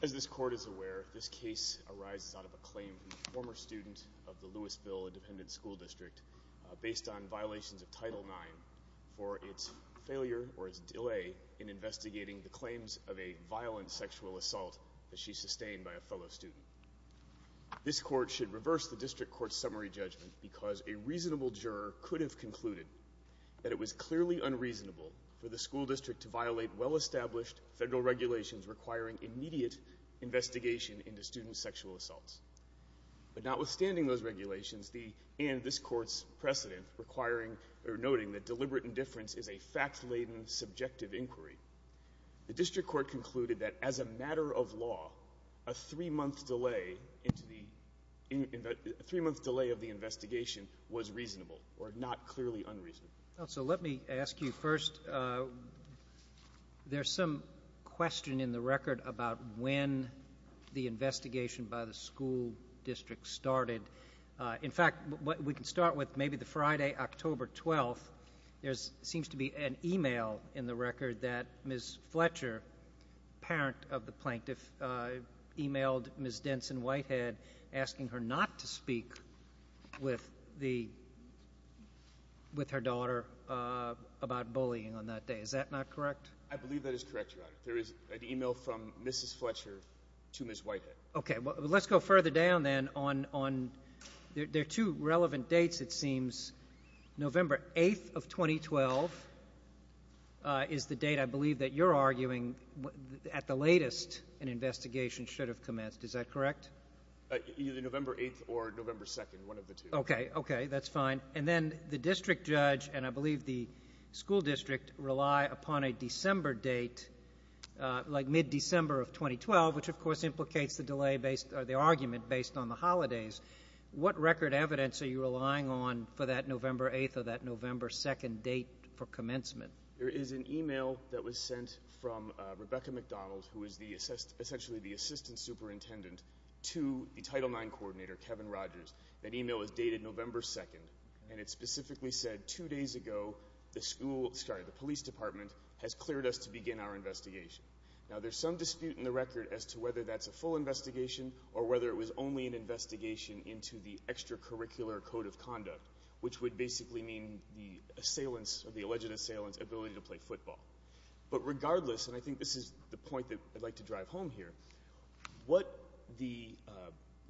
As this Court is aware, this case arises out of a claim from a former student of the Lewisville Independent School District based on violations of Title IX for its failure or its delay in investigating the claims of a violent sexual assault that she sustained by a fellow student. This Court should reverse the District Court's summary judgment because a reasonable juror could have concluded that it was clearly unreasonable for the school district to violate well-established federal regulations requiring immediate investigation into student sexual assaults. But notwithstanding those regulations and this Court's precedent, noting that deliberate indifference is a fact-laden, subjective inquiry, the District Court concluded that as a matter of fact, a three-month delay of the investigation was reasonable, or not clearly unreasonable. Mr. McHenry So let me ask you first, there's some question in the record about when the investigation by the school district started. In fact, we can start with maybe the Friday, October 12th. There seems to be an e-mail in the record that Ms. Fletcher, parent of the plaintiff, e-mailed Ms. Denson-Whitehead asking her not to speak with her daughter about bullying on that day. Is that not correct? Mr. McHenry I believe that is correct, Your Honor. There is an e-mail from Mrs. Fletcher to Ms. Whitehead. Mr. McHenry Okay, well let's go further down then. There are two relevant dates, it seems. November 8th of 2012 is the date, I believe, that you're arguing at the latest an investigation should have commenced. Is that correct? Mr. McHenry Either November 8th or November 2nd, one of the two. Mr. McHenry Okay, okay, that's fine. And then the district judge, and I believe the school district, rely upon a December date, like mid-December of 2012, which of course implicates the delay based, or the argument based on the holidays. What record evidence are you relying on for that November 8th or that November 2nd date for commencement? Mr. McHenry There is an e-mail that was sent from Rebecca McDonald, who is essentially the assistant superintendent, to the Title IX coordinator, Kevin Rogers. That e-mail is dated November 2nd, and it specifically said two days ago the police department has cleared us to begin our investigation. Now there's some dispute in the record as to whether that's a full investigation or whether it was only an investigation into the extracurricular code of ability to play football. But regardless, and I think this is the point that I'd like to drive home here, what the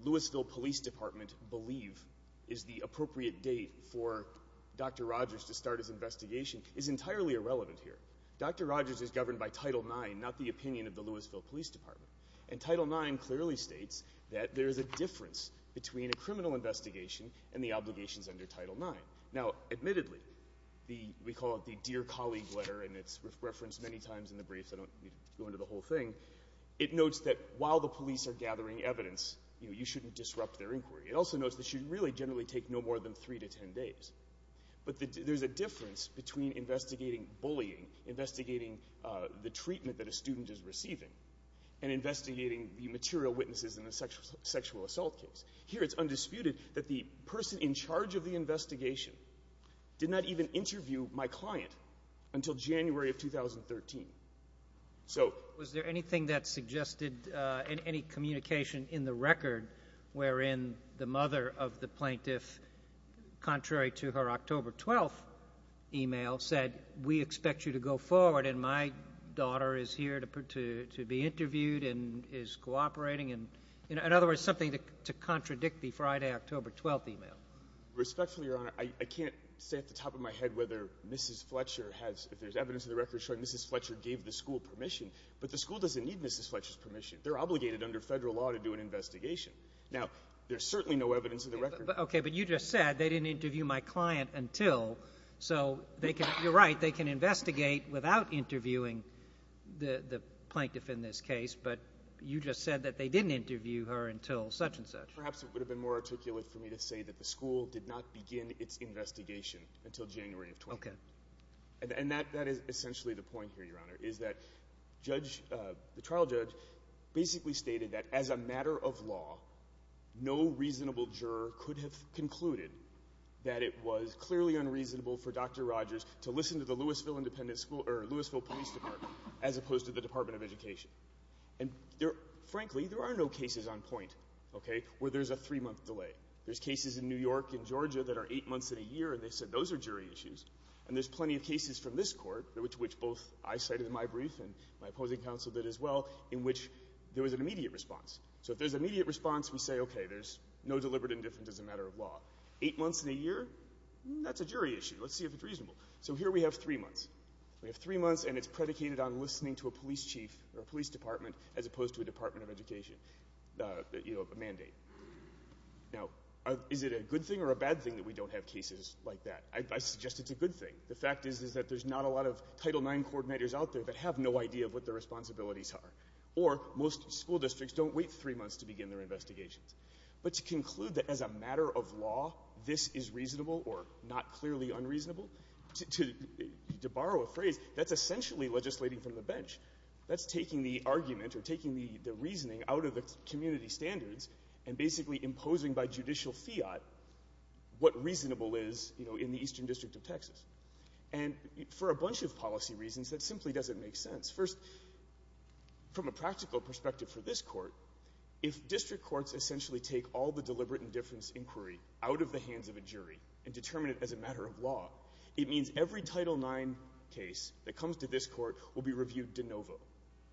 Louisville Police Department believe is the appropriate date for Dr. Rogers to start his investigation is entirely irrelevant here. Dr. Rogers is governed by Title IX, not the opinion of the Louisville Police Department. And Title IX clearly states that there is a difference between a criminal investigation and the obligations under Title IX. Now admittedly, we call it the dear colleague letter, and it's referenced many times in the briefs. I don't need to go into the whole thing. It notes that while the police are gathering evidence, you know, you shouldn't disrupt their inquiry. It also notes that it should really generally take no more than 3 to 10 days. But there's a difference between investigating bullying, investigating the treatment that a student is receiving, and investigating the material witnesses in a sexual assault case. Here it's undisputed that the person in charge of the investigation did not even interview my client until January of 2013. So... Was there anything that suggested any communication in the record wherein the mother of the plaintiff, contrary to her October 12th email, said, we expect you to go forward and my daughter is here to be interviewed and is cooperating? In other words, something to contradict the Friday, October 12th email. Respectfully, Your Honor, I can't say off the top of my head whether Mrs. Fletcher has, if there's evidence in the record showing Mrs. Fletcher gave the school permission, but the school doesn't need Mrs. Fletcher's permission. They're obligated under federal law to do an investigation. Now, there's certainly no evidence in the record... Okay, but you just said they didn't interview my client until... So they can, you're right, they can investigate without interviewing the plaintiff in this case, but you just said that they didn't interview her until such and such. Perhaps it would have been more articulate for me to say that the school did not begin its investigation until January of 20th. Okay. And that is essentially the point here, Your Honor, is that the trial judge basically stated that as a matter of law, no reasonable juror could have concluded that it was clearly unreasonable for Dr. Rogers to listen to the Louisville Police Department as opposed to the Department of Education. And frankly, there are no cases on point, okay, where there's a three-month delay. There's cases in New York and Georgia that are eight months and a year, and they said those are jury issues. And there's plenty of cases from this court, which both I cited in my brief and my opposing counsel did as well, in which there was an immediate response. So if there's an immediate response, we say, okay, there's no deliberate indifference as a matter of law. Eight months and a year, that's a jury issue. Let's see if it's reasonable. So here we have three months. We have three months, and it's predicated on listening to a police chief or police department as opposed to a Department of Education mandate. Now, is it a good thing or a bad thing that we don't have cases like that? I suggest it's a good thing. The fact is that there's not a lot of Title IX coordinators out there that have no idea of what their responsibilities are, or most school districts don't wait three months to begin their investigations. But to conclude that as a matter of law, this is reasonable or not clearly unreasonable, to borrow a phrase, that's essentially legislating from the bench. That's taking the argument or taking the reasoning out of the community standards and basically imposing by judicial fiat what reasonable is, you know, in the Eastern District of Texas. And for a bunch of policy reasons, that simply doesn't make sense. First, from a practical perspective for this Court, if district courts essentially take all the deliberate indifference inquiry out of the hands of a jury and determine it as a matter of law, it means every Title IX case that comes to this Court will be reviewed de novo.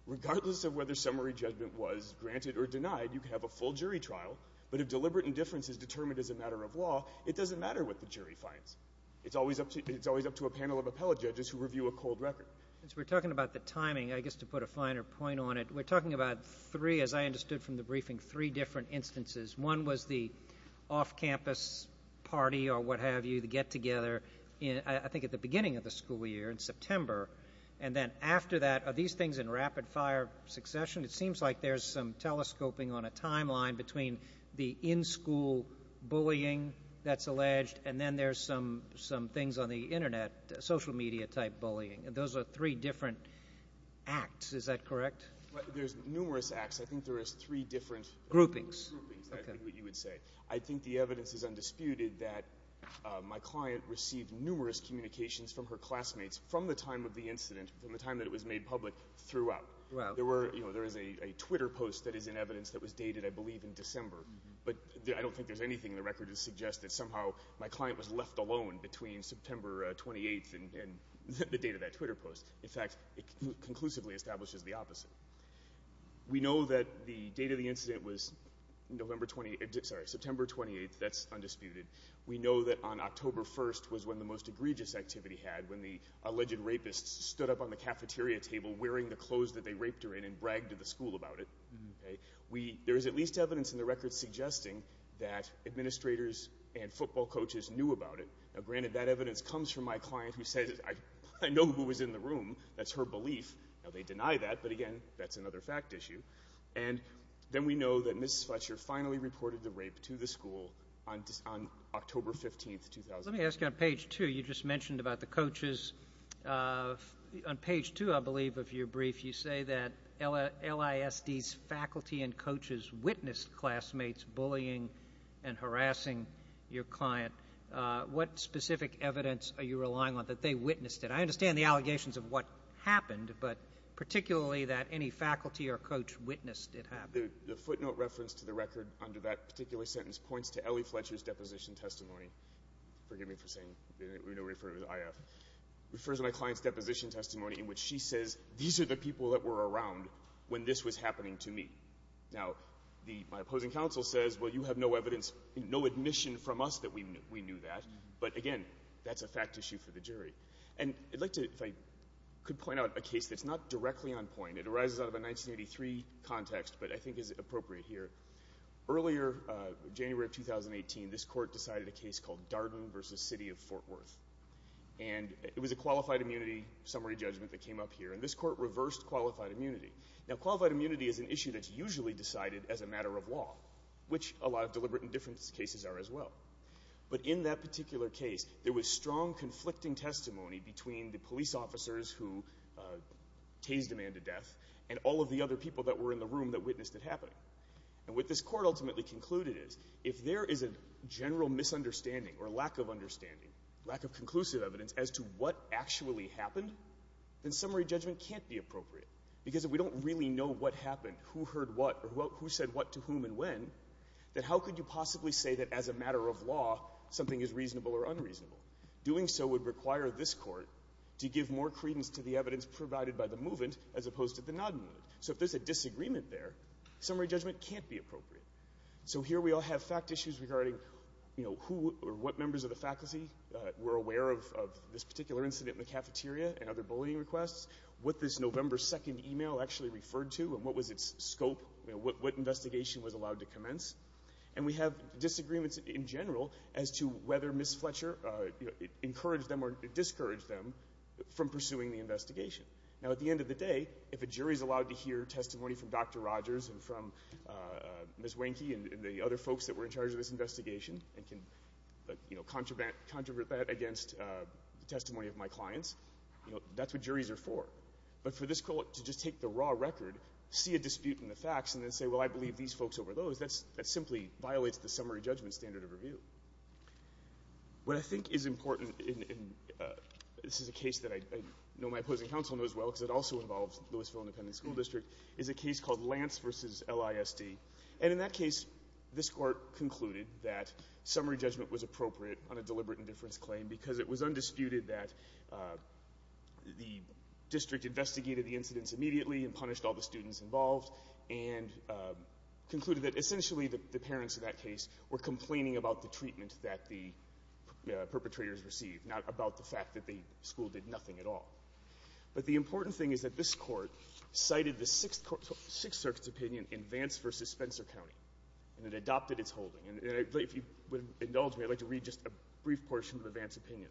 Regardless of whether summary judgment was granted or denied, you could have a full jury trial. But if deliberate indifference is determined as a matter of law, it doesn't matter what the jury finds. It's always up to a panel of appellate judges who review a cold record. Since we're talking about the timing, I guess to put a finer point on it, we're talking about three, as I understood from the briefing, three different instances. One was the off-campus party or what have you, the get-together, I think, at the beginning of the school year in September. And then after that, are these things in rapid-fire succession? It seems like there's some telescoping on a timeline between the in-school bullying that's alleged and then there's some things on the Internet, social media-type bullying. Those are three different acts. Is that correct? Well, there's numerous acts. I think there is three different groupings. I think the evidence is undisputed that my client received numerous communications from her classmates from the time of the incident, from the time that it was made public, throughout. There is a Twitter post that is in evidence that was dated, I believe, in December. But I don't think there's anything in the record that suggests that somehow my client was left alone between September 28th and the date of that Twitter post. In fact, it conclusively establishes the opposite. We know that the date of the incident was September 28th. That's undisputed. We know that on October 1st was when the most egregious activity had, when the alleged rapist stood up on the cafeteria table wearing the clothes that they raped her in and bragged to the school about it. There is at least evidence in the record suggesting that administrators and football coaches knew about it. Now, granted, that evidence comes from my room. That's her belief. Now, they deny that, but again, that's another fact issue. And then we know that Ms. Fletcher finally reported the rape to the school on October 15th, 2008. Let me ask you on page two, you just mentioned about the coaches. On page two, I believe, of your brief, you say that LISD's faculty and coaches witnessed classmates bullying and harassing your client. What specific evidence are you relying on that they witnessed it? I understand the allegations of what happened, but particularly that any faculty or coach witnessed it happen. The footnote reference to the record under that particular sentence points to Ellie Fletcher's deposition testimony. Forgive me for saying, we don't refer to it as IF. It refers to my client's deposition testimony in which she says, these are the people that were around when this was happening to me. Now, my opposing counsel says, well, you have no evidence, no admission from us that we knew that. But again, that's a fact issue for the jury. And I'd like to, if I could point out a case that's not directly on point. It arises out of a 1983 context, but I think is appropriate here. Earlier, January of 2018, this court decided a case called Darden v. City of Fort Worth. And it was a qualified immunity summary judgment that came up here. And this court reversed qualified immunity. Now, qualified immunity is an issue that's usually decided as a matter of law, which a lot of deliberate indifference cases are as well. But in that particular case, there was strong conflicting testimony between the police officers who tased a man to death and all of the other people that were in the room that witnessed it happening. And what this court ultimately concluded is, if there is a general misunderstanding or lack of understanding, lack of conclusive evidence as to what actually happened, then summary judgment can't be appropriate. Because if we don't really know what happened, who heard what, or who said what to whom and when, then how could you possibly say that, as a matter of law, something is reasonable or unreasonable? Doing so would require this court to give more credence to the evidence provided by the movement as opposed to the non-movement. So if there's a disagreement there, summary judgment can't be appropriate. So here we all have fact issues regarding, you know, who or what members of the faculty were aware of this particular incident in the cafeteria and other bullying requests, what this November 2nd email actually referred to, and what was its scope, you know, what investigation was allowed to commence. And we have disagreements in general as to whether Ms. Fletcher, you know, encouraged them or discouraged them from pursuing the investigation. Now, at the end of the day, if a jury is allowed to hear testimony from Dr. Rogers and from Ms. Wahnke and the other folks that were in charge of this investigation and can, you know, contravene that against the testimony of my clients, you know, that's what juries are for. But for this court to just take the raw record, see a dispute in the facts, and then say, well, I believe these folks over those, that's — that simply violates the summary judgment standard of review. What I think is important, and this is a case that I know my opposing counsel knows well because it also involves Lewisville Independent School District, is a case called Lance v. LISD. And in that case, this Court concluded that summary judgment was appropriate on a deliberate indifference claim because it was undisputed that the district investigated the incidents immediately and punished all the students involved and concluded that essentially the parents of that case were complaining about the treatment that the perpetrators received, not about the fact that the school did nothing at all. But the important thing is that this Court cited the Sixth Circuit's opinion in Vance v. Spencer County, and it adopted its holding. And if you would indulge me, I'd like to read just a brief portion of Vance's opinion.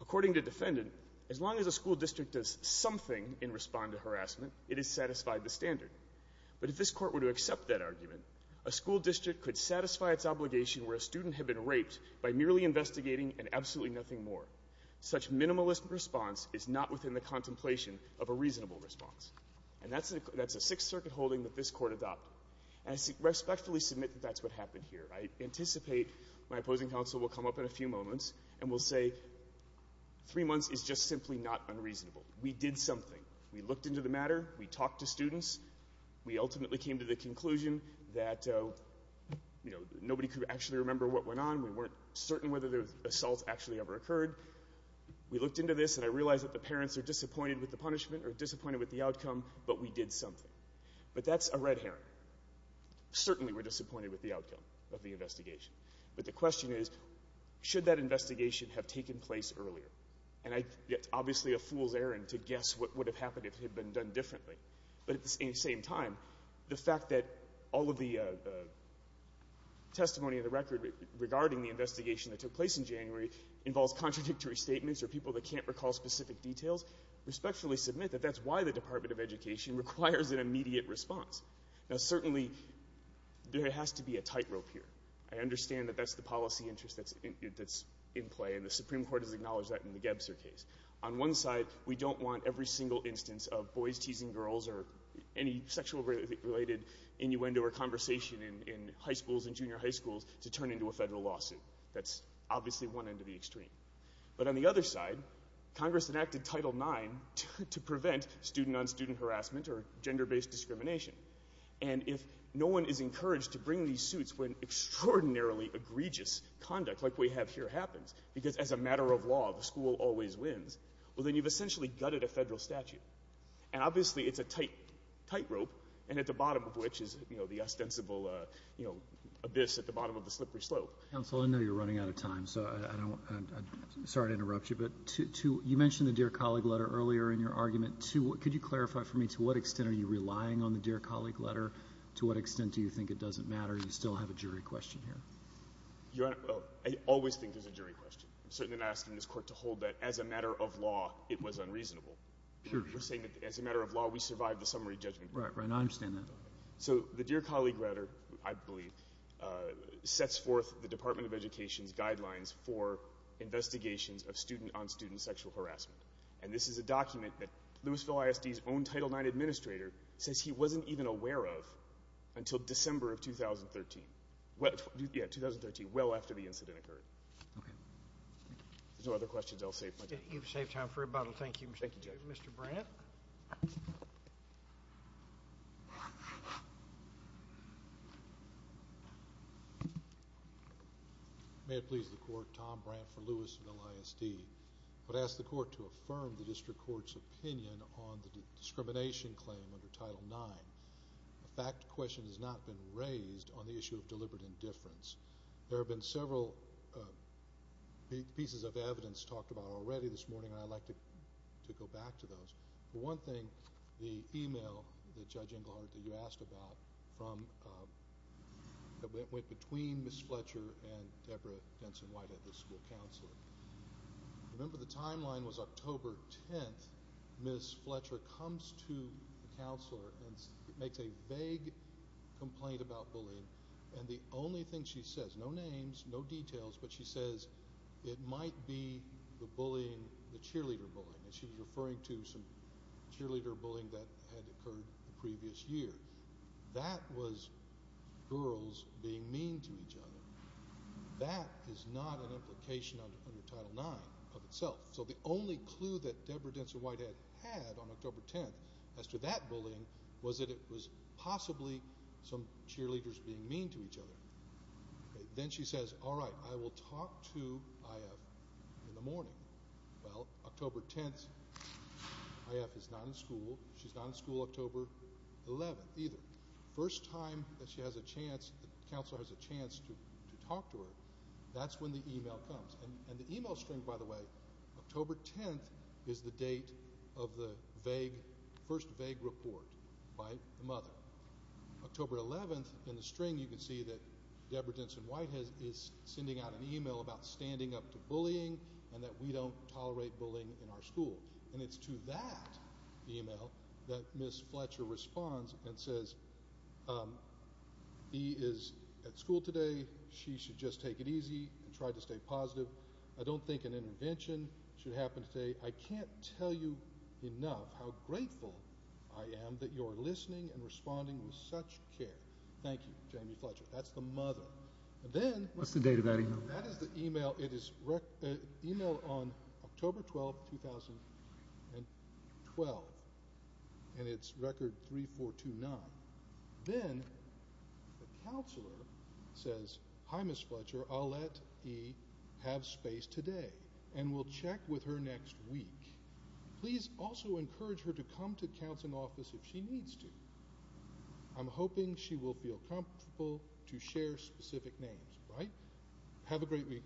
According to defendant, as long as a school district does something in response to harassment, it has satisfied the standard. But if this Court were to accept that argument, a school district could satisfy its obligation where a student had been raped by merely investigating and absolutely nothing more. Such minimalist response is not within the contemplation of a reasonable response. And that's a Sixth Circuit holding that this Court adopted. And I respectfully submit that that's what happened here. I anticipate my opposing counsel will come up in a few moments and will say, three months is just simply not unreasonable. We did something. We looked into the matter. We talked to students. We ultimately came to the conclusion that, you know, nobody could actually remember what went on. We weren't certain whether the assault actually ever occurred. We looked into this, and I realize that the parents are disappointed with the punishment or disappointed with the outcome, but we did something. But that's a red herring. Certainly we're disappointed with the outcome of the investigation. But the question is, should that investigation have taken place earlier? And it's obviously a fool's errand to guess what would have happened if it had been done differently. But at the same time, the fact that all of the testimony of the record regarding the investigation that took place in January involves contradictory statements or people that can't recall specific details, respectfully submit that that's why the Department of Education requires an immediate response. Now, certainly, there has to be a tightrope here. I understand that that's the policy interest that's in play, and the Supreme Court has acknowledged that in the Gebzer case. On one side, we don't want every single instance of boys teasing girls or any sexual-related innuendo or conversation in high schools and junior high schools to turn into a federal lawsuit. That's obviously one end of the extreme. But on the other side, Congress enacted Title IX to prevent student-on-student harassment or gender-based discrimination. And if no one is encouraged to bring these suits when extraordinarily egregious conduct like we have here happens, because as a matter of law, the school always wins, well, then you've essentially gutted a federal statute. And obviously, it's a tightrope, and at the bottom of which is, you know, the ostensible, you know, abyss at the bottom of the slippery slope. Counsel, I know you're running out of time, so I don't — I'm sorry to interrupt you, but to — you mentioned the Dear Colleague letter earlier in your argument. To — could you clarify for me, to what extent are you relying on the Dear Colleague letter? To what extent do you think it doesn't matter? You still have a jury question here. Your Honor, I always think there's a jury question. I'm certain that I'm asking this Court to hold that, as a matter of law, it was unreasonable. We're saying that, as a matter of law, we survived the summary judgment. Right, right. I understand that. So the Dear Colleague letter, I believe, sets forth the Department of Education's guidelines for investigations of student-on-student sexual harassment. And this is a document that Louisville ISD's own Title IX Administrator says he wasn't even aware of until December of 2013 — yeah, 2013, well after the incident occurred. Okay. If there's no other questions, I'll save my time. You've saved time for about — and thank you, Mr. — Thank you, Judge. — Mr. Brandt. May it please the Court, Tom Brandt for Louisville ISD. I would ask the Court to affirm the District Court's opinion on the discrimination claim under Title IX. A fact question has not been raised on the issue of deliberate indifference. There have been several pieces of evidence talked about already this morning, and I'd like to go back to those. For one thing, the email that Judge Engelhardt — that you asked about — that went between Ms. Fletcher and Debra Denson-Whitehead, the school counselor. Remember, the timeline was October 10th. Ms. Fletcher comes to the counselor and makes a vague complaint about bullying. And the only thing she says — no names, no details — but she says it might be the bullying, the cheerleader bullying. And she's referring to some cheerleader bullying that had occurred the previous year. That was girls being mean to each other. That is not an implication under Title IX of itself. So the only clue that Debra Denson-Whitehead had on October 10th as to that bullying was that it was possibly some talk to I.F. in the morning. Well, October 10th, I.F. is not in school. She's not in school October 11th either. First time that she has a chance, the counselor has a chance to talk to her, that's when the email comes. And the email string, by the way, October 10th is the date of the first vague report by the mother. October 11th, in the string, you can see that Debra Denson-Whitehead is sending out an email about standing up to bullying and that we don't tolerate bullying in our school. And it's to that email that Ms. Fletcher responds and says, he is at school today, she should just take it easy and try to stay positive. I don't think an intervention should happen today. I can't tell you enough how grateful I am that you're there. What's the date of that email? That is the email, it is email on October 12th, 2012, and it's record 3429. Then the counselor says, hi Ms. Fletcher, I'll let E. have space today and we'll check with her next week. Please also encourage her to come to counseling office if she has specific names. Have a great week.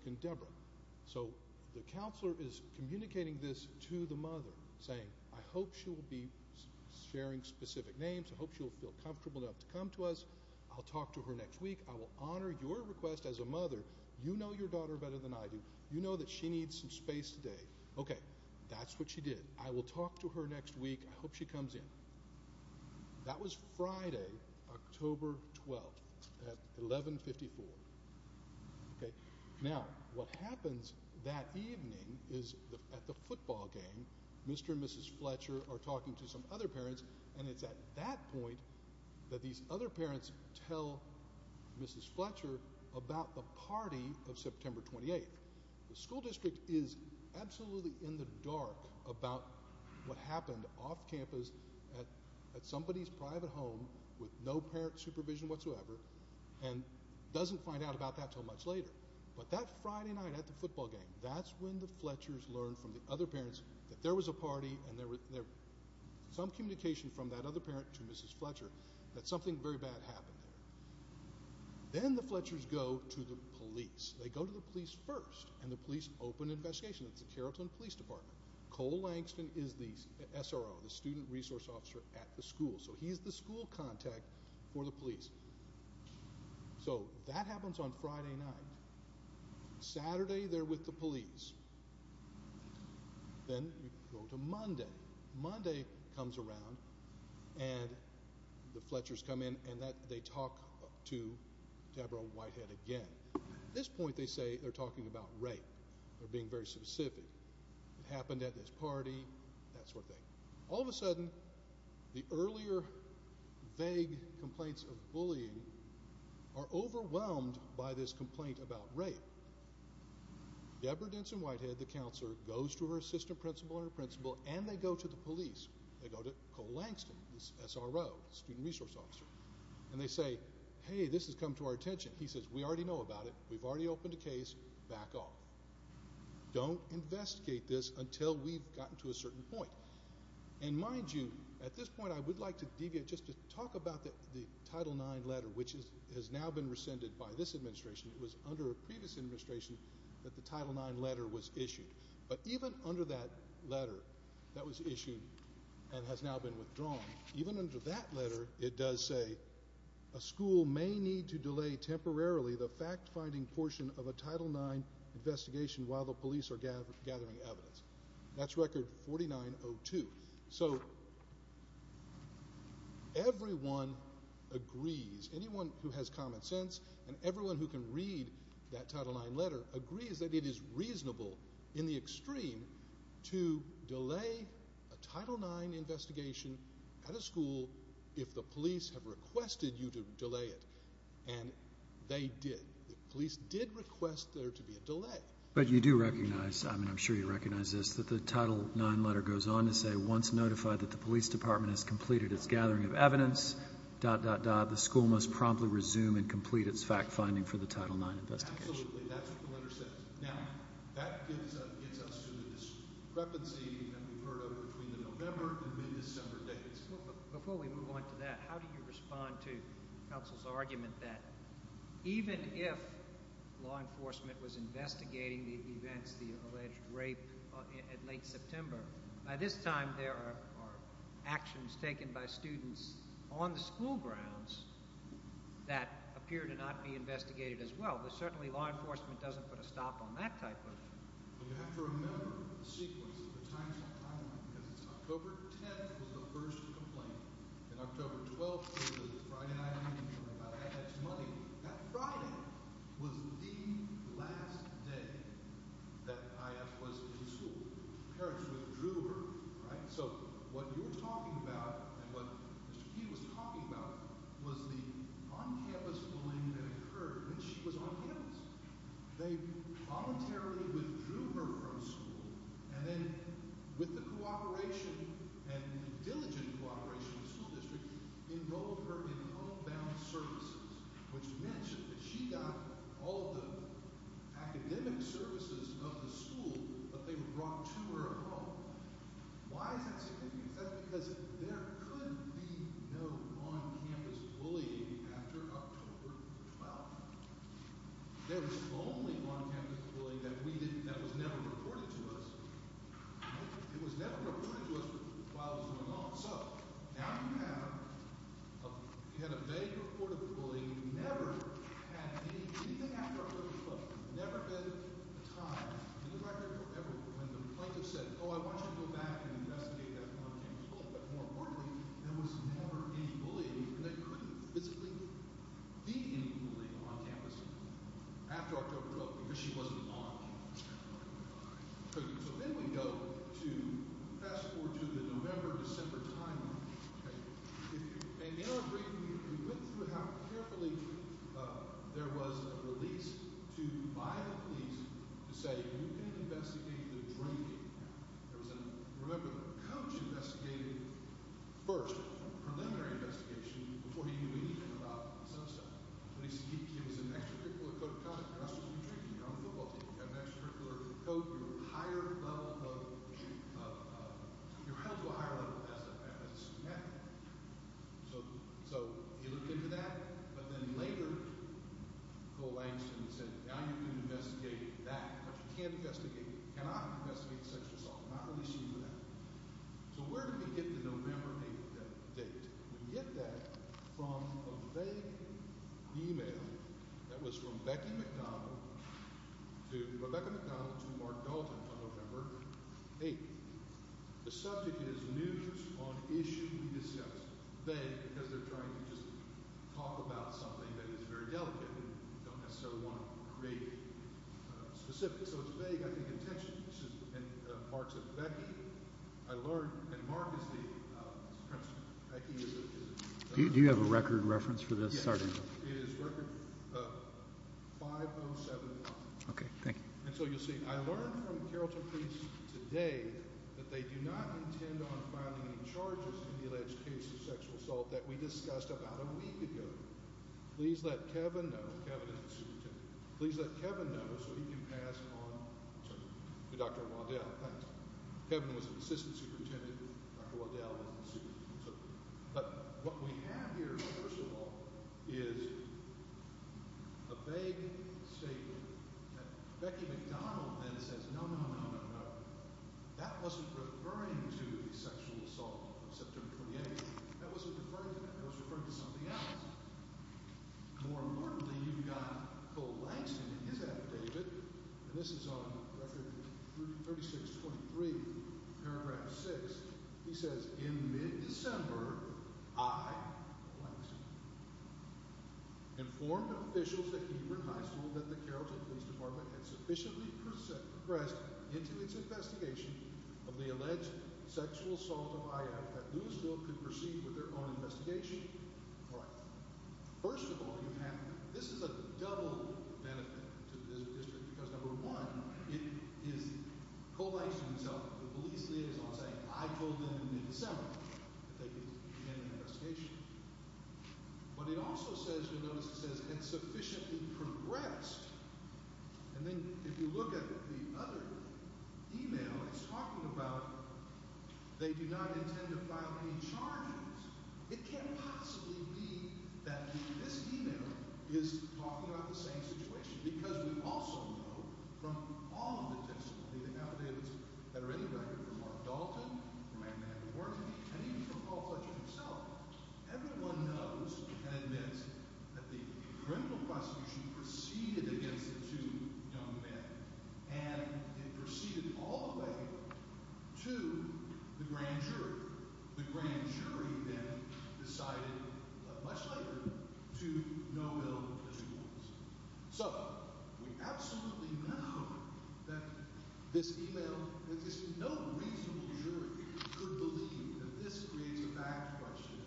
So the counselor is communicating this to the mother, saying I hope she will be sharing specific names, I hope she will feel comfortable enough to come to us. I'll talk to her next week. I will honor your request as a mother. You know your daughter better than I do. You know that she needs some space today. Okay, that's what she did. I will talk to her next week. I hope she comes in. That was Friday, October 12th at 1154. Okay, now what happens that evening is at the football game, Mr. and Mrs. Fletcher are talking to some other parents and it's at that point that these other parents tell Mrs. Fletcher about the party of happened off campus at somebody's private home with no parent supervision whatsoever and doesn't find out about that till much later. But that Friday night at the football game, that's when the Fletchers learn from the other parents that there was a party and there was some communication from that other parent to Mrs. Fletcher that something very bad happened there. Then the Fletchers go to the police. They go to the police first and the police open investigation. It's the Carrollton Police Department. Cole Langston is the SRO, the Student Resource Officer at the school. So he's the school contact for the police. So that happens on Friday night. Saturday they're with the police. Then you go to Monday. Monday comes around and the Fletchers come in and that they talk to Deborah Whitehead again. At this point they say they're talking about rape. They're being very specific. It happened at this party, that sort of thing. All of a sudden the earlier vague complaints of bullying are overwhelmed by this complaint about rape. Deborah Denson Whitehead, the counselor, goes to her assistant principal and her principal and they go to the police. They go to Cole Langston, the SRO, the Student Resource Officer, and they say hey this has come to our attention. He says we already know about it. We've already opened a case back off. Don't investigate this until we've gotten to a certain point. And mind you, at this point I would like to deviate just to talk about the Title IX letter which has now been rescinded by this administration. It was under a previous administration that the Title IX letter was issued. But even under that letter that was issued and has now been withdrawn, even under that letter it does say a school may need to delay temporarily the fact-finding portion of a Title IX investigation while the police are gathering evidence. That's record 4902. So everyone agrees, anyone who has common sense and everyone who can read that Title IX letter agrees that it is reasonable in the extreme to delay a Title IX investigation at a school if the police have requested you to delay it. And they did. The police did request there to be a delay. But you do recognize, I mean I'm sure you recognize this, that the Title IX letter goes on to say once notified that the police department has completed its gathering of evidence dot dot dot the school must promptly resume and complete its fact-finding for the Title IX investigation. Absolutely, that's what the letter says. Now that gets us to the discrepancy that we've heard of between the November and mid-December dates. Before we move on to that, how do you respond to counsel's argument that even if law enforcement was investigating the events, the alleged rape at late September, by this time there are actions taken by students on the school grounds that appear to not be investigated as well. But certainly law enforcement doesn't put a stop on that type of thing. You have to remember the sequence of the timeline because October 10th was the first complaint. And October 12th was Friday night. That Friday was the last day that Aya was in school. Parents withdrew her, right? So what you're talking about and what Mr. Kee was talking about was the on-campus bullying that occurred when she was on campus. They voluntarily withdrew her from school and then with the cooperation and diligent cooperation of the school district, enrolled her in all-bound services, which mentioned that she got all the academic services of the school, but they were brought to her at home. Why is that significant? Is that because there could be no on-campus bullying after October 12th? There was only on-campus bullying that we didn't, that was never reported to us. It was never reported to us while it was going on. So now you have, you had a vague report of the bullying, never had anything after October 12th, never been a time in the record ever when the plaintiff said, oh I want you to go back and investigate that on-campus bullying. But more the bullying on campus after October 12th because she wasn't on campus. So then we go to, fast forward to the November-December timeline, okay? And in our briefing we went through how carefully there was a release to by the police to say you can investigate the drinking. There was a, remember the coach investigated first, a preliminary investigation before he knew anything about the subset. But he said it was an extracurricular code of conduct, that's what you're drinking, you're on the football team, you have an extracurricular code, you're a higher level of, you're held to a higher level as a student athlete. So he looked into that, but then later Cole Langston said now you can investigate that, but you can't investigate, you cannot investigate sexual assault, not releasing you to that. So where did we get the November 8th date? We get that from a vague email that was from Becky McDonald to Rebecca McDonald to Mark Dalton on November 8th. The subject is news on issue we discussed. Vague because they're trying to just talk about something that is very delicate and don't necessarily want to create specifics. So it's vague, I think intentionally. This is in parts of Becky. I learned, and Mark is the president. Do you have a record reference for this? Sorry. It is record 5071. Okay, thank you. And so you'll see, I learned from Carrollton Police today that they do not intend on filing any charges in the alleged case of sexual assault that we discussed about a week ago. Please let Kevin know, Kevin is the superintendent, please let Kevin know so he can pass on to Dr. Waddell. Thanks. Kevin was an assistant superintendent, Dr. Waddell is the superintendent. But what we have here, first of all, is a vague statement that Becky McDonald then says no, no, no, no, no. That wasn't referring to the sexual assault on September 28th. That wasn't referring to that. That was referring to something else. More importantly, you've got Cole Langston in his affidavit, and this is on record 3623, paragraph 6. He says, in mid-December, I, Cole Langston, informed officials at Hebron High School that the Carrollton Police Department had sufficiently pressed into its investigation of the alleged sexual assault of I.F. that Lewisville could proceed with their own investigation right. First of all, you have, this is a double benefit to the district because number one, it is Cole Langston himself, the police liaison saying, I told them in mid-December that they could begin an investigation. But it also says, you'll notice it says, and sufficiently progressed, and then if you look at the other email, it's talking about they do not intend to file any charges. It can't possibly be that this email is talking about the same situation because we also know from all of the testimony, the affidavits that are in the record from Mark Dalton, from Amanda Wharton, and even from Paul Fletcher himself, everyone knows and admits that the criminal prosecution proceeded against the two young men, and it proceeded all the way to the grand jury. The grand jury then decided, much later, to no bill. So we absolutely know that this email, that just no reasonable jury could believe that this creates a back question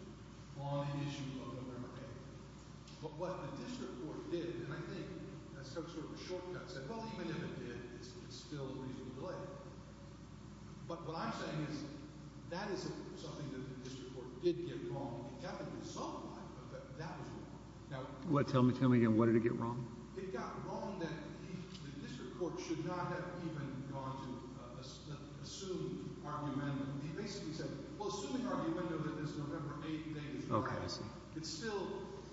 on an issue of November 8th. But what the district court did, and I think that's some sort of a shortcut, said, well, even if it did, it's still a reasonable delay. But what I'm saying is, that is something that the district court did get wrong. What, tell me, tell me again, what did it get wrong? It got wrong that the district court should not have even gone to assume argument. He basically said, well, assuming argument that this November 8th date is right, it's still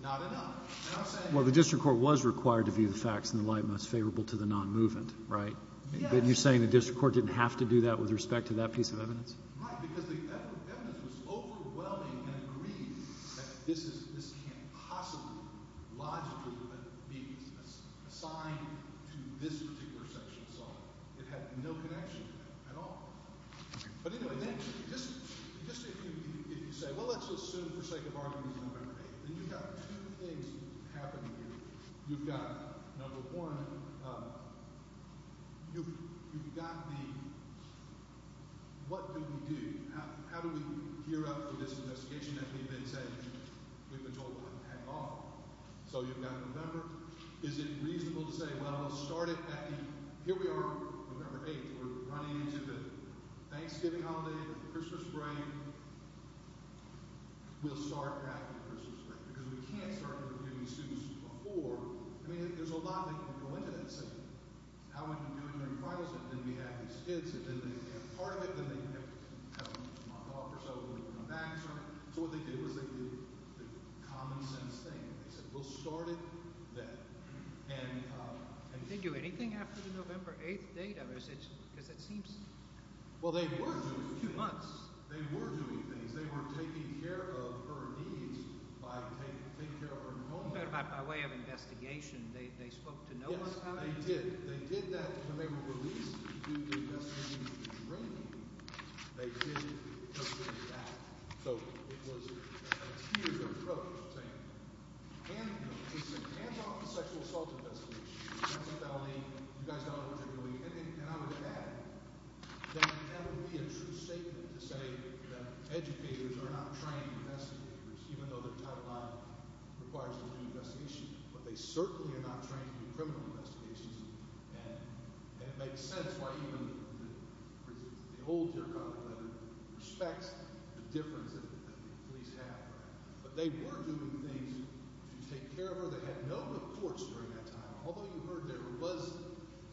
not enough. Well, the district court was required to view the facts in the light most favorable to the non-movement, right? But you're saying the district court didn't have to do that with respect to that piece of evidence? Right, because the evidence was overwhelming and agreed that this can't possibly, logically, be assigned to this particular section, so it had no connection to that at all. But anyway, just if you say, well, let's assume for sake of argument November 8th, you've got two things happening here. You've got, number one, you've got the, what do we do? How do we gear up for this investigation that we've been saying, we've been told to pack off? So you've got November, is it reasonable to say, well, let's start it at the, here we are on November 8th, we're running into the Thanksgiving holiday, Christmas break, we'll start after Christmas break, because we can't start interviewing students before, I mean, there's a lot that can go into that, say, how would you do it during Christmas if we didn't have these kids, if they didn't have part of it, then they'd have to come off or something, come back or something, so what they did was they did the common sense thing, they said, we'll start it then. And did they do anything after the November 8th date, because it seems, well, they were doing things, they were doing things, they were taking care of her needs by taking care of her hormones, by way of investigation, they spoke to no one, yes, they did, they did that when they were released, they did that, so it was a huge thing, and I would add, that would be a true statement to say that educators are not trained investigators, even though their timeline requires a lot of investigation, but they certainly are not trained in criminal investigations, and it makes sense why even the old, respects the difference that police have, but they were doing things to take care of her, they had no reports during that time, although you heard there was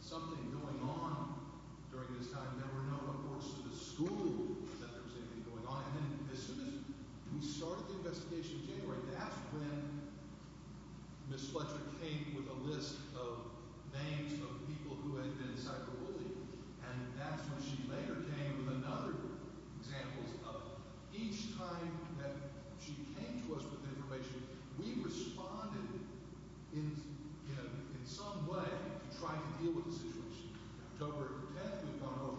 something going on during this time, there were no reports to the school that there was anything going on, and then as soon as we started the investigation in January, that's when Ms. Fletcher came with a list of names of people who had been psyched or bullied, and that's when she later came with another examples of each time that she came to us with information, we responded in some way to try to deal with the situation. October 10th, we found out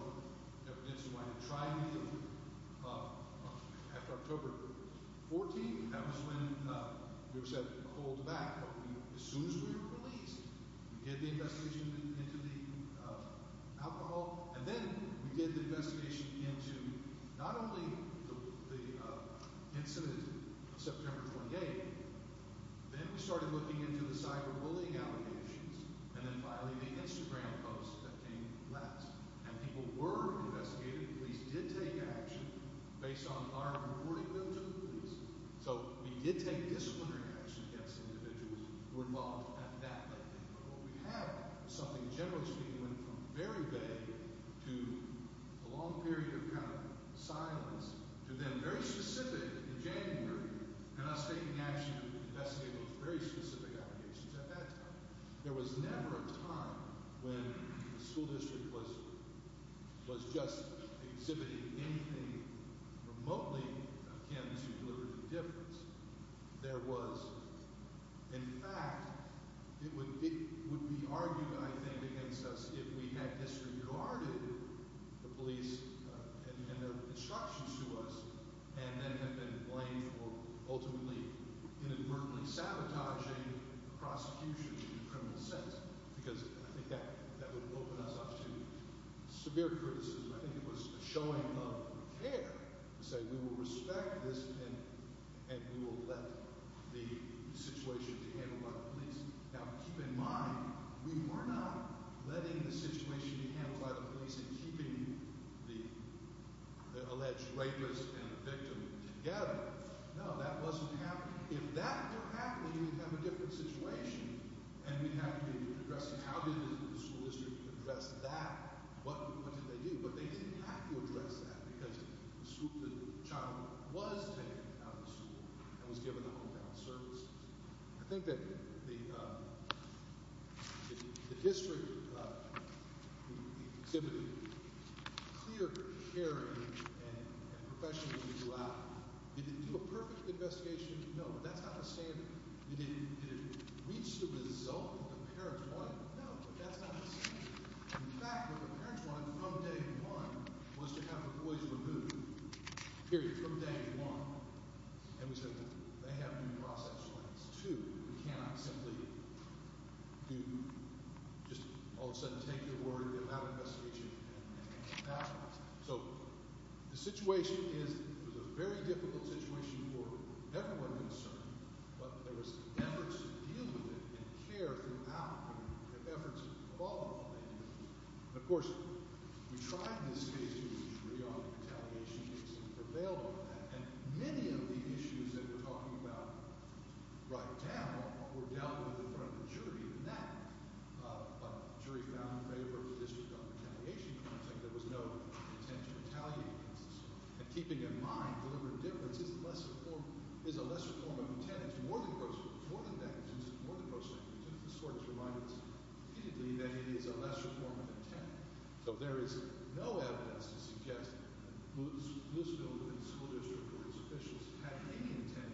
that we didn't seem like we were trying to deal with it, after October 14th, that was when we were said to hold back, but as soon as we were released, we did the investigation into the alcohol, and then we did the investigation into not only the incident of September 28th, then we started looking into the cyber bullying allegations, and then finally the Instagram post that came last, and people were investigated, the police did take action based on our reporting bill to the police, so we did take disciplinary action against individuals who were involved at that time, but we have something generally speaking went from very vague to a long period of kind of silence, to then very specific in January, and us taking action to investigate those very specific allegations at that time. There was never a time when the school district was just exhibiting anything remotely akin to deliberately making a difference. There was, in fact, it would be argued I think against us if we had disregarded the police and their instructions to us, and then have been blamed for ultimately inadvertently sabotaging prosecution in a criminal sense, because I think that would open us up to severe criticism. I think it was a showing of care to say we will respect this and we will let the situation be handled by the police. Now keep in mind, we were not letting the situation be handled by the police and keeping the alleged rapist and the victim together. No, that wasn't happening. If that were happening, we'd have a different situation and we'd have to be addressing how did the school district address that, what did they do? But they didn't have to address that because the child was taken out of the school and was given a hometown service. I think that the district exhibited clear caring and professionalism throughout. Did it do a perfect investigation? No, but that's not the standard. Did it reach the result that the parents wanted? No, but that's not the standard. The feedback that the parents wanted from day one was to have the boys removed, period, from day one. And we said they have due process plans. Two, we cannot simply just all of a sudden take their word and allow an investigation. So the situation is, it was a very difficult situation for everyone concerned, but there was efforts to deal with it and care throughout and efforts of all involved. And of course, we tried in this case to use jury on retaliation cases and prevailed on that. And many of the issues that we're talking about right now were dealt with in front of the jury. But the jury found in favor of the district on retaliation content, there was no intent to retaliate against the school. And keeping in mind deliberate indifference is a lesser form of intent. It's more than that in terms of more than prosecution. The court has reminded us repeatedly that it is a lesser form of intent. So there is no evidence to suggest that Bloomfield and the school district or its officials had any intent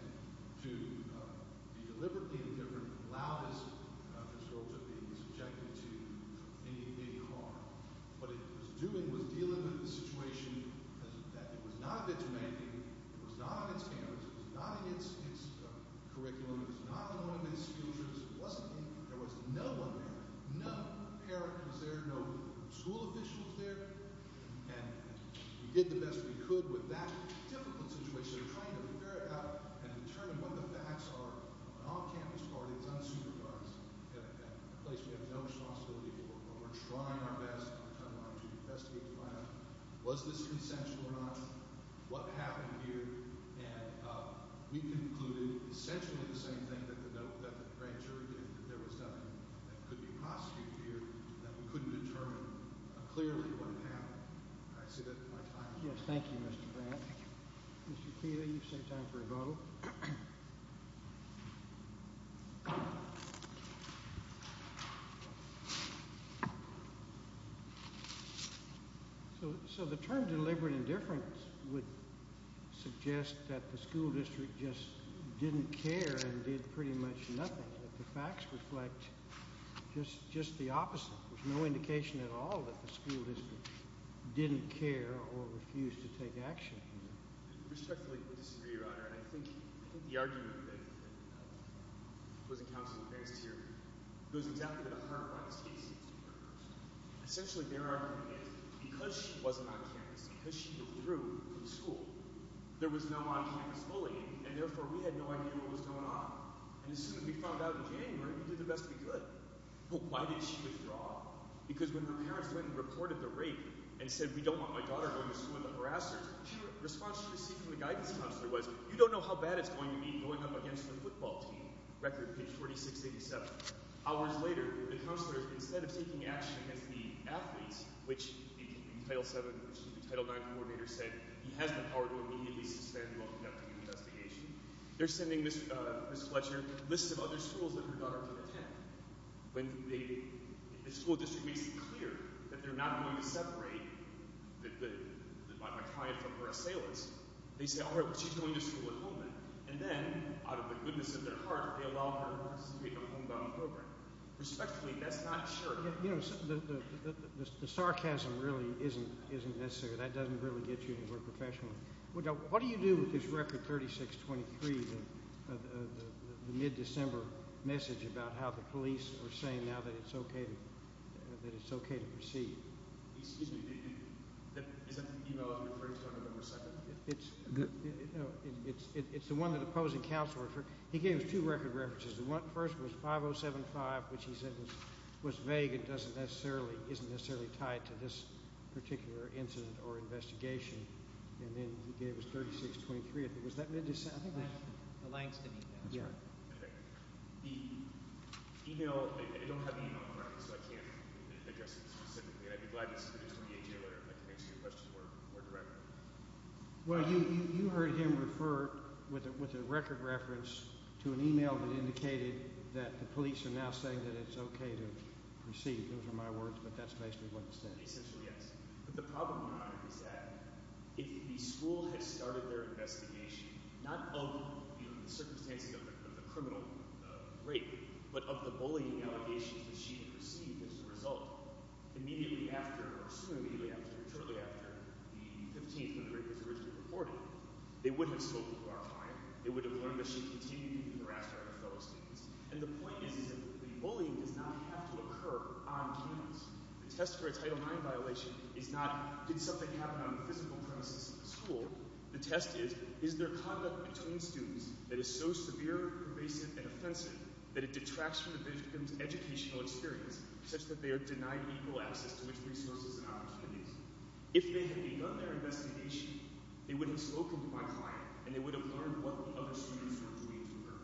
to be deliberately indifferent and allow this school to be subjected to any harm. What it was doing was dealing with a situation that was not of its making, it was not of its parents, it was not in its curriculum, it was not in one of its schools. There was no one there. No parent was there, no school official was there. And we did the best we could with that difficult situation. We're trying to figure it out and determine what the facts are. An off-campus party, it's unsupervised. A place we have no responsibility for. We're trying our best to investigate the plan. Was this consensual or not? What happened here? We concluded essentially the same thing that the note that the grand jury did, that there was nothing that could be prosecuted here, that we couldn't determine clearly what happened. I say that at my time. Yes, thank you, Mr. Brandt. Mr. Keeley, you've saved time for a vote. So the term deliberate indifference would suggest that the school district just didn't care and did pretty much nothing, that the facts reflect just the opposite. There's no indication at all that the school district didn't care or refused to take action. I respectfully disagree, Your Honor. And I think the argument that was encountered in the case here goes exactly to the heart of what this case is. Essentially, their argument is because she wasn't on campus, because she withdrew from school, there was no on-campus bullying. And therefore, we had no idea what was going on. And as soon as we found out in January, we did the best we could. Well, why did she withdraw? Because when her parents went and reported the rape and said, we don't want my daughter going to school with a harasser, the response she received from the guidance counselor was, you don't know how bad it's going to be going up against the football team. Record, page 4687. Hours later, the counselor, instead of taking action against the athletes, which the Title IX coordinator said he has the power to immediately suspend while conducting an investigation, they're sending Ms. Fletcher lists of other schools that her daughter could attend. When the school district makes it clear that they're not going to separate Ma'Khia from her assailants, they say, all right, well, she's going to school at home then. And then, out of the goodness of their heart, they allow her to participate in a homebound program. Respectfully, that's not sure. The sarcasm really isn't necessary. That doesn't really get you anywhere professionally. What do you do with this record 3623, the mid-December message about how the police are saying now that it's okay to proceed? Excuse me. Is that the email I'm referring to on November 2nd? It's the one that the opposing counselor referred. He gave us two record references. The first was 5075, which he said was vague and isn't necessarily tied to this particular incident or investigation. And then he gave us 3623. Was that mid-December? The Langston email. That's right. Okay. The email – I don't have the email in front of me, so I can't address it specifically. I'd be glad to submit it to the DA later if I can answer your question more directly. Well, you heard him refer with a record reference to an email that indicated that the police are now saying that it's okay to proceed. Those are my words, but that's basically what it said. Essentially, yes. But the problem now is that if the school had started their investigation, not of the circumstances of the criminal rape, but of the bullying allegations that she had received as a result, immediately after or soon immediately after or shortly after the 15th when the rape was originally reported, they would have spoken to our client. They would have learned that she continued to harass her other fellow students. And the point is that the bullying does not have to occur on campus. The test for a Title IX violation is not, did something happen on the physical premises of the school? The test is, is there conduct between students that is so severe, pervasive, and offensive that it detracts from the victim's educational experience such that they are denied equal access to which resources and opportunities? If they had begun their investigation, they would have spoken to my client, and they would have learned what the other students were doing to her.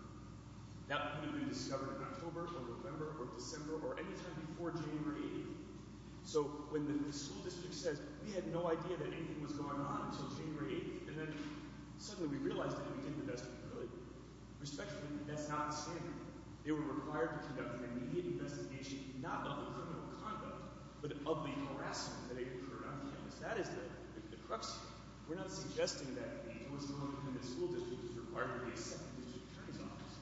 That would have been discovered in October or November or December or any time before January 8th. So when the school district says, we had no idea that anything was going on until January 8th, and then suddenly we realized that we did the best we could, respectfully, that's not standard. They were required to conduct an immediate investigation, not of the criminal conduct, but of the harassment that occurred on campus. That is the crux here. We're not suggesting that the North Carolina Community School District is required to be a second-digit attorney's office.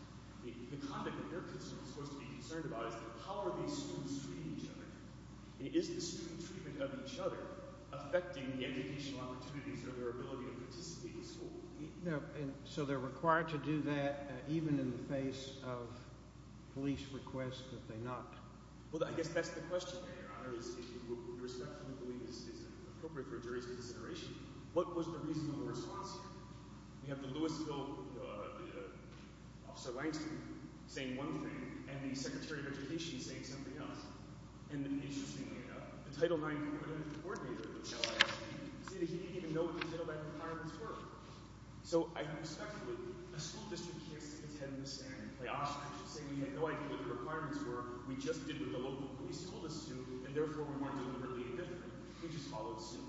The conduct that they're concerned, of course, to be concerned about is how are these students treating each other? And is the student treatment of each other affecting the educational opportunities or their ability to participate in school? So they're required to do that even in the face of police requests that they not? Well, I guess that's the question there, Your Honor, is if you respectfully believe this is appropriate for a jury's consideration. What was the reasonable response here? We have the Louisville Officer Langston saying one thing, and the Secretary of Education saying something else. And interestingly enough, the Title IX Coordinating Coordinator, Michelle Ashby, said that she didn't even know what these Title IX requirements were. So I respectfully, a school district can't sit its head in the sand and play off. I should say we had no idea what the requirements were. We just did what the local police told us to, and therefore we weren't doing anything different. We just followed suit.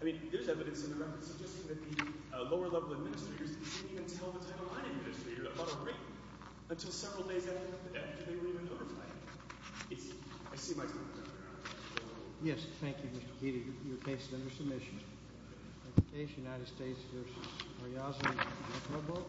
I mean, there's evidence in the record suggesting that the lower-level administrators didn't even tell the Title IX administrators about a break until several days after the death, and they weren't even notified. I see my time is up, Your Honor. Yes, thank you, Mr. Keating. Your case is under submission. The case, United States v. Royazan, Provo.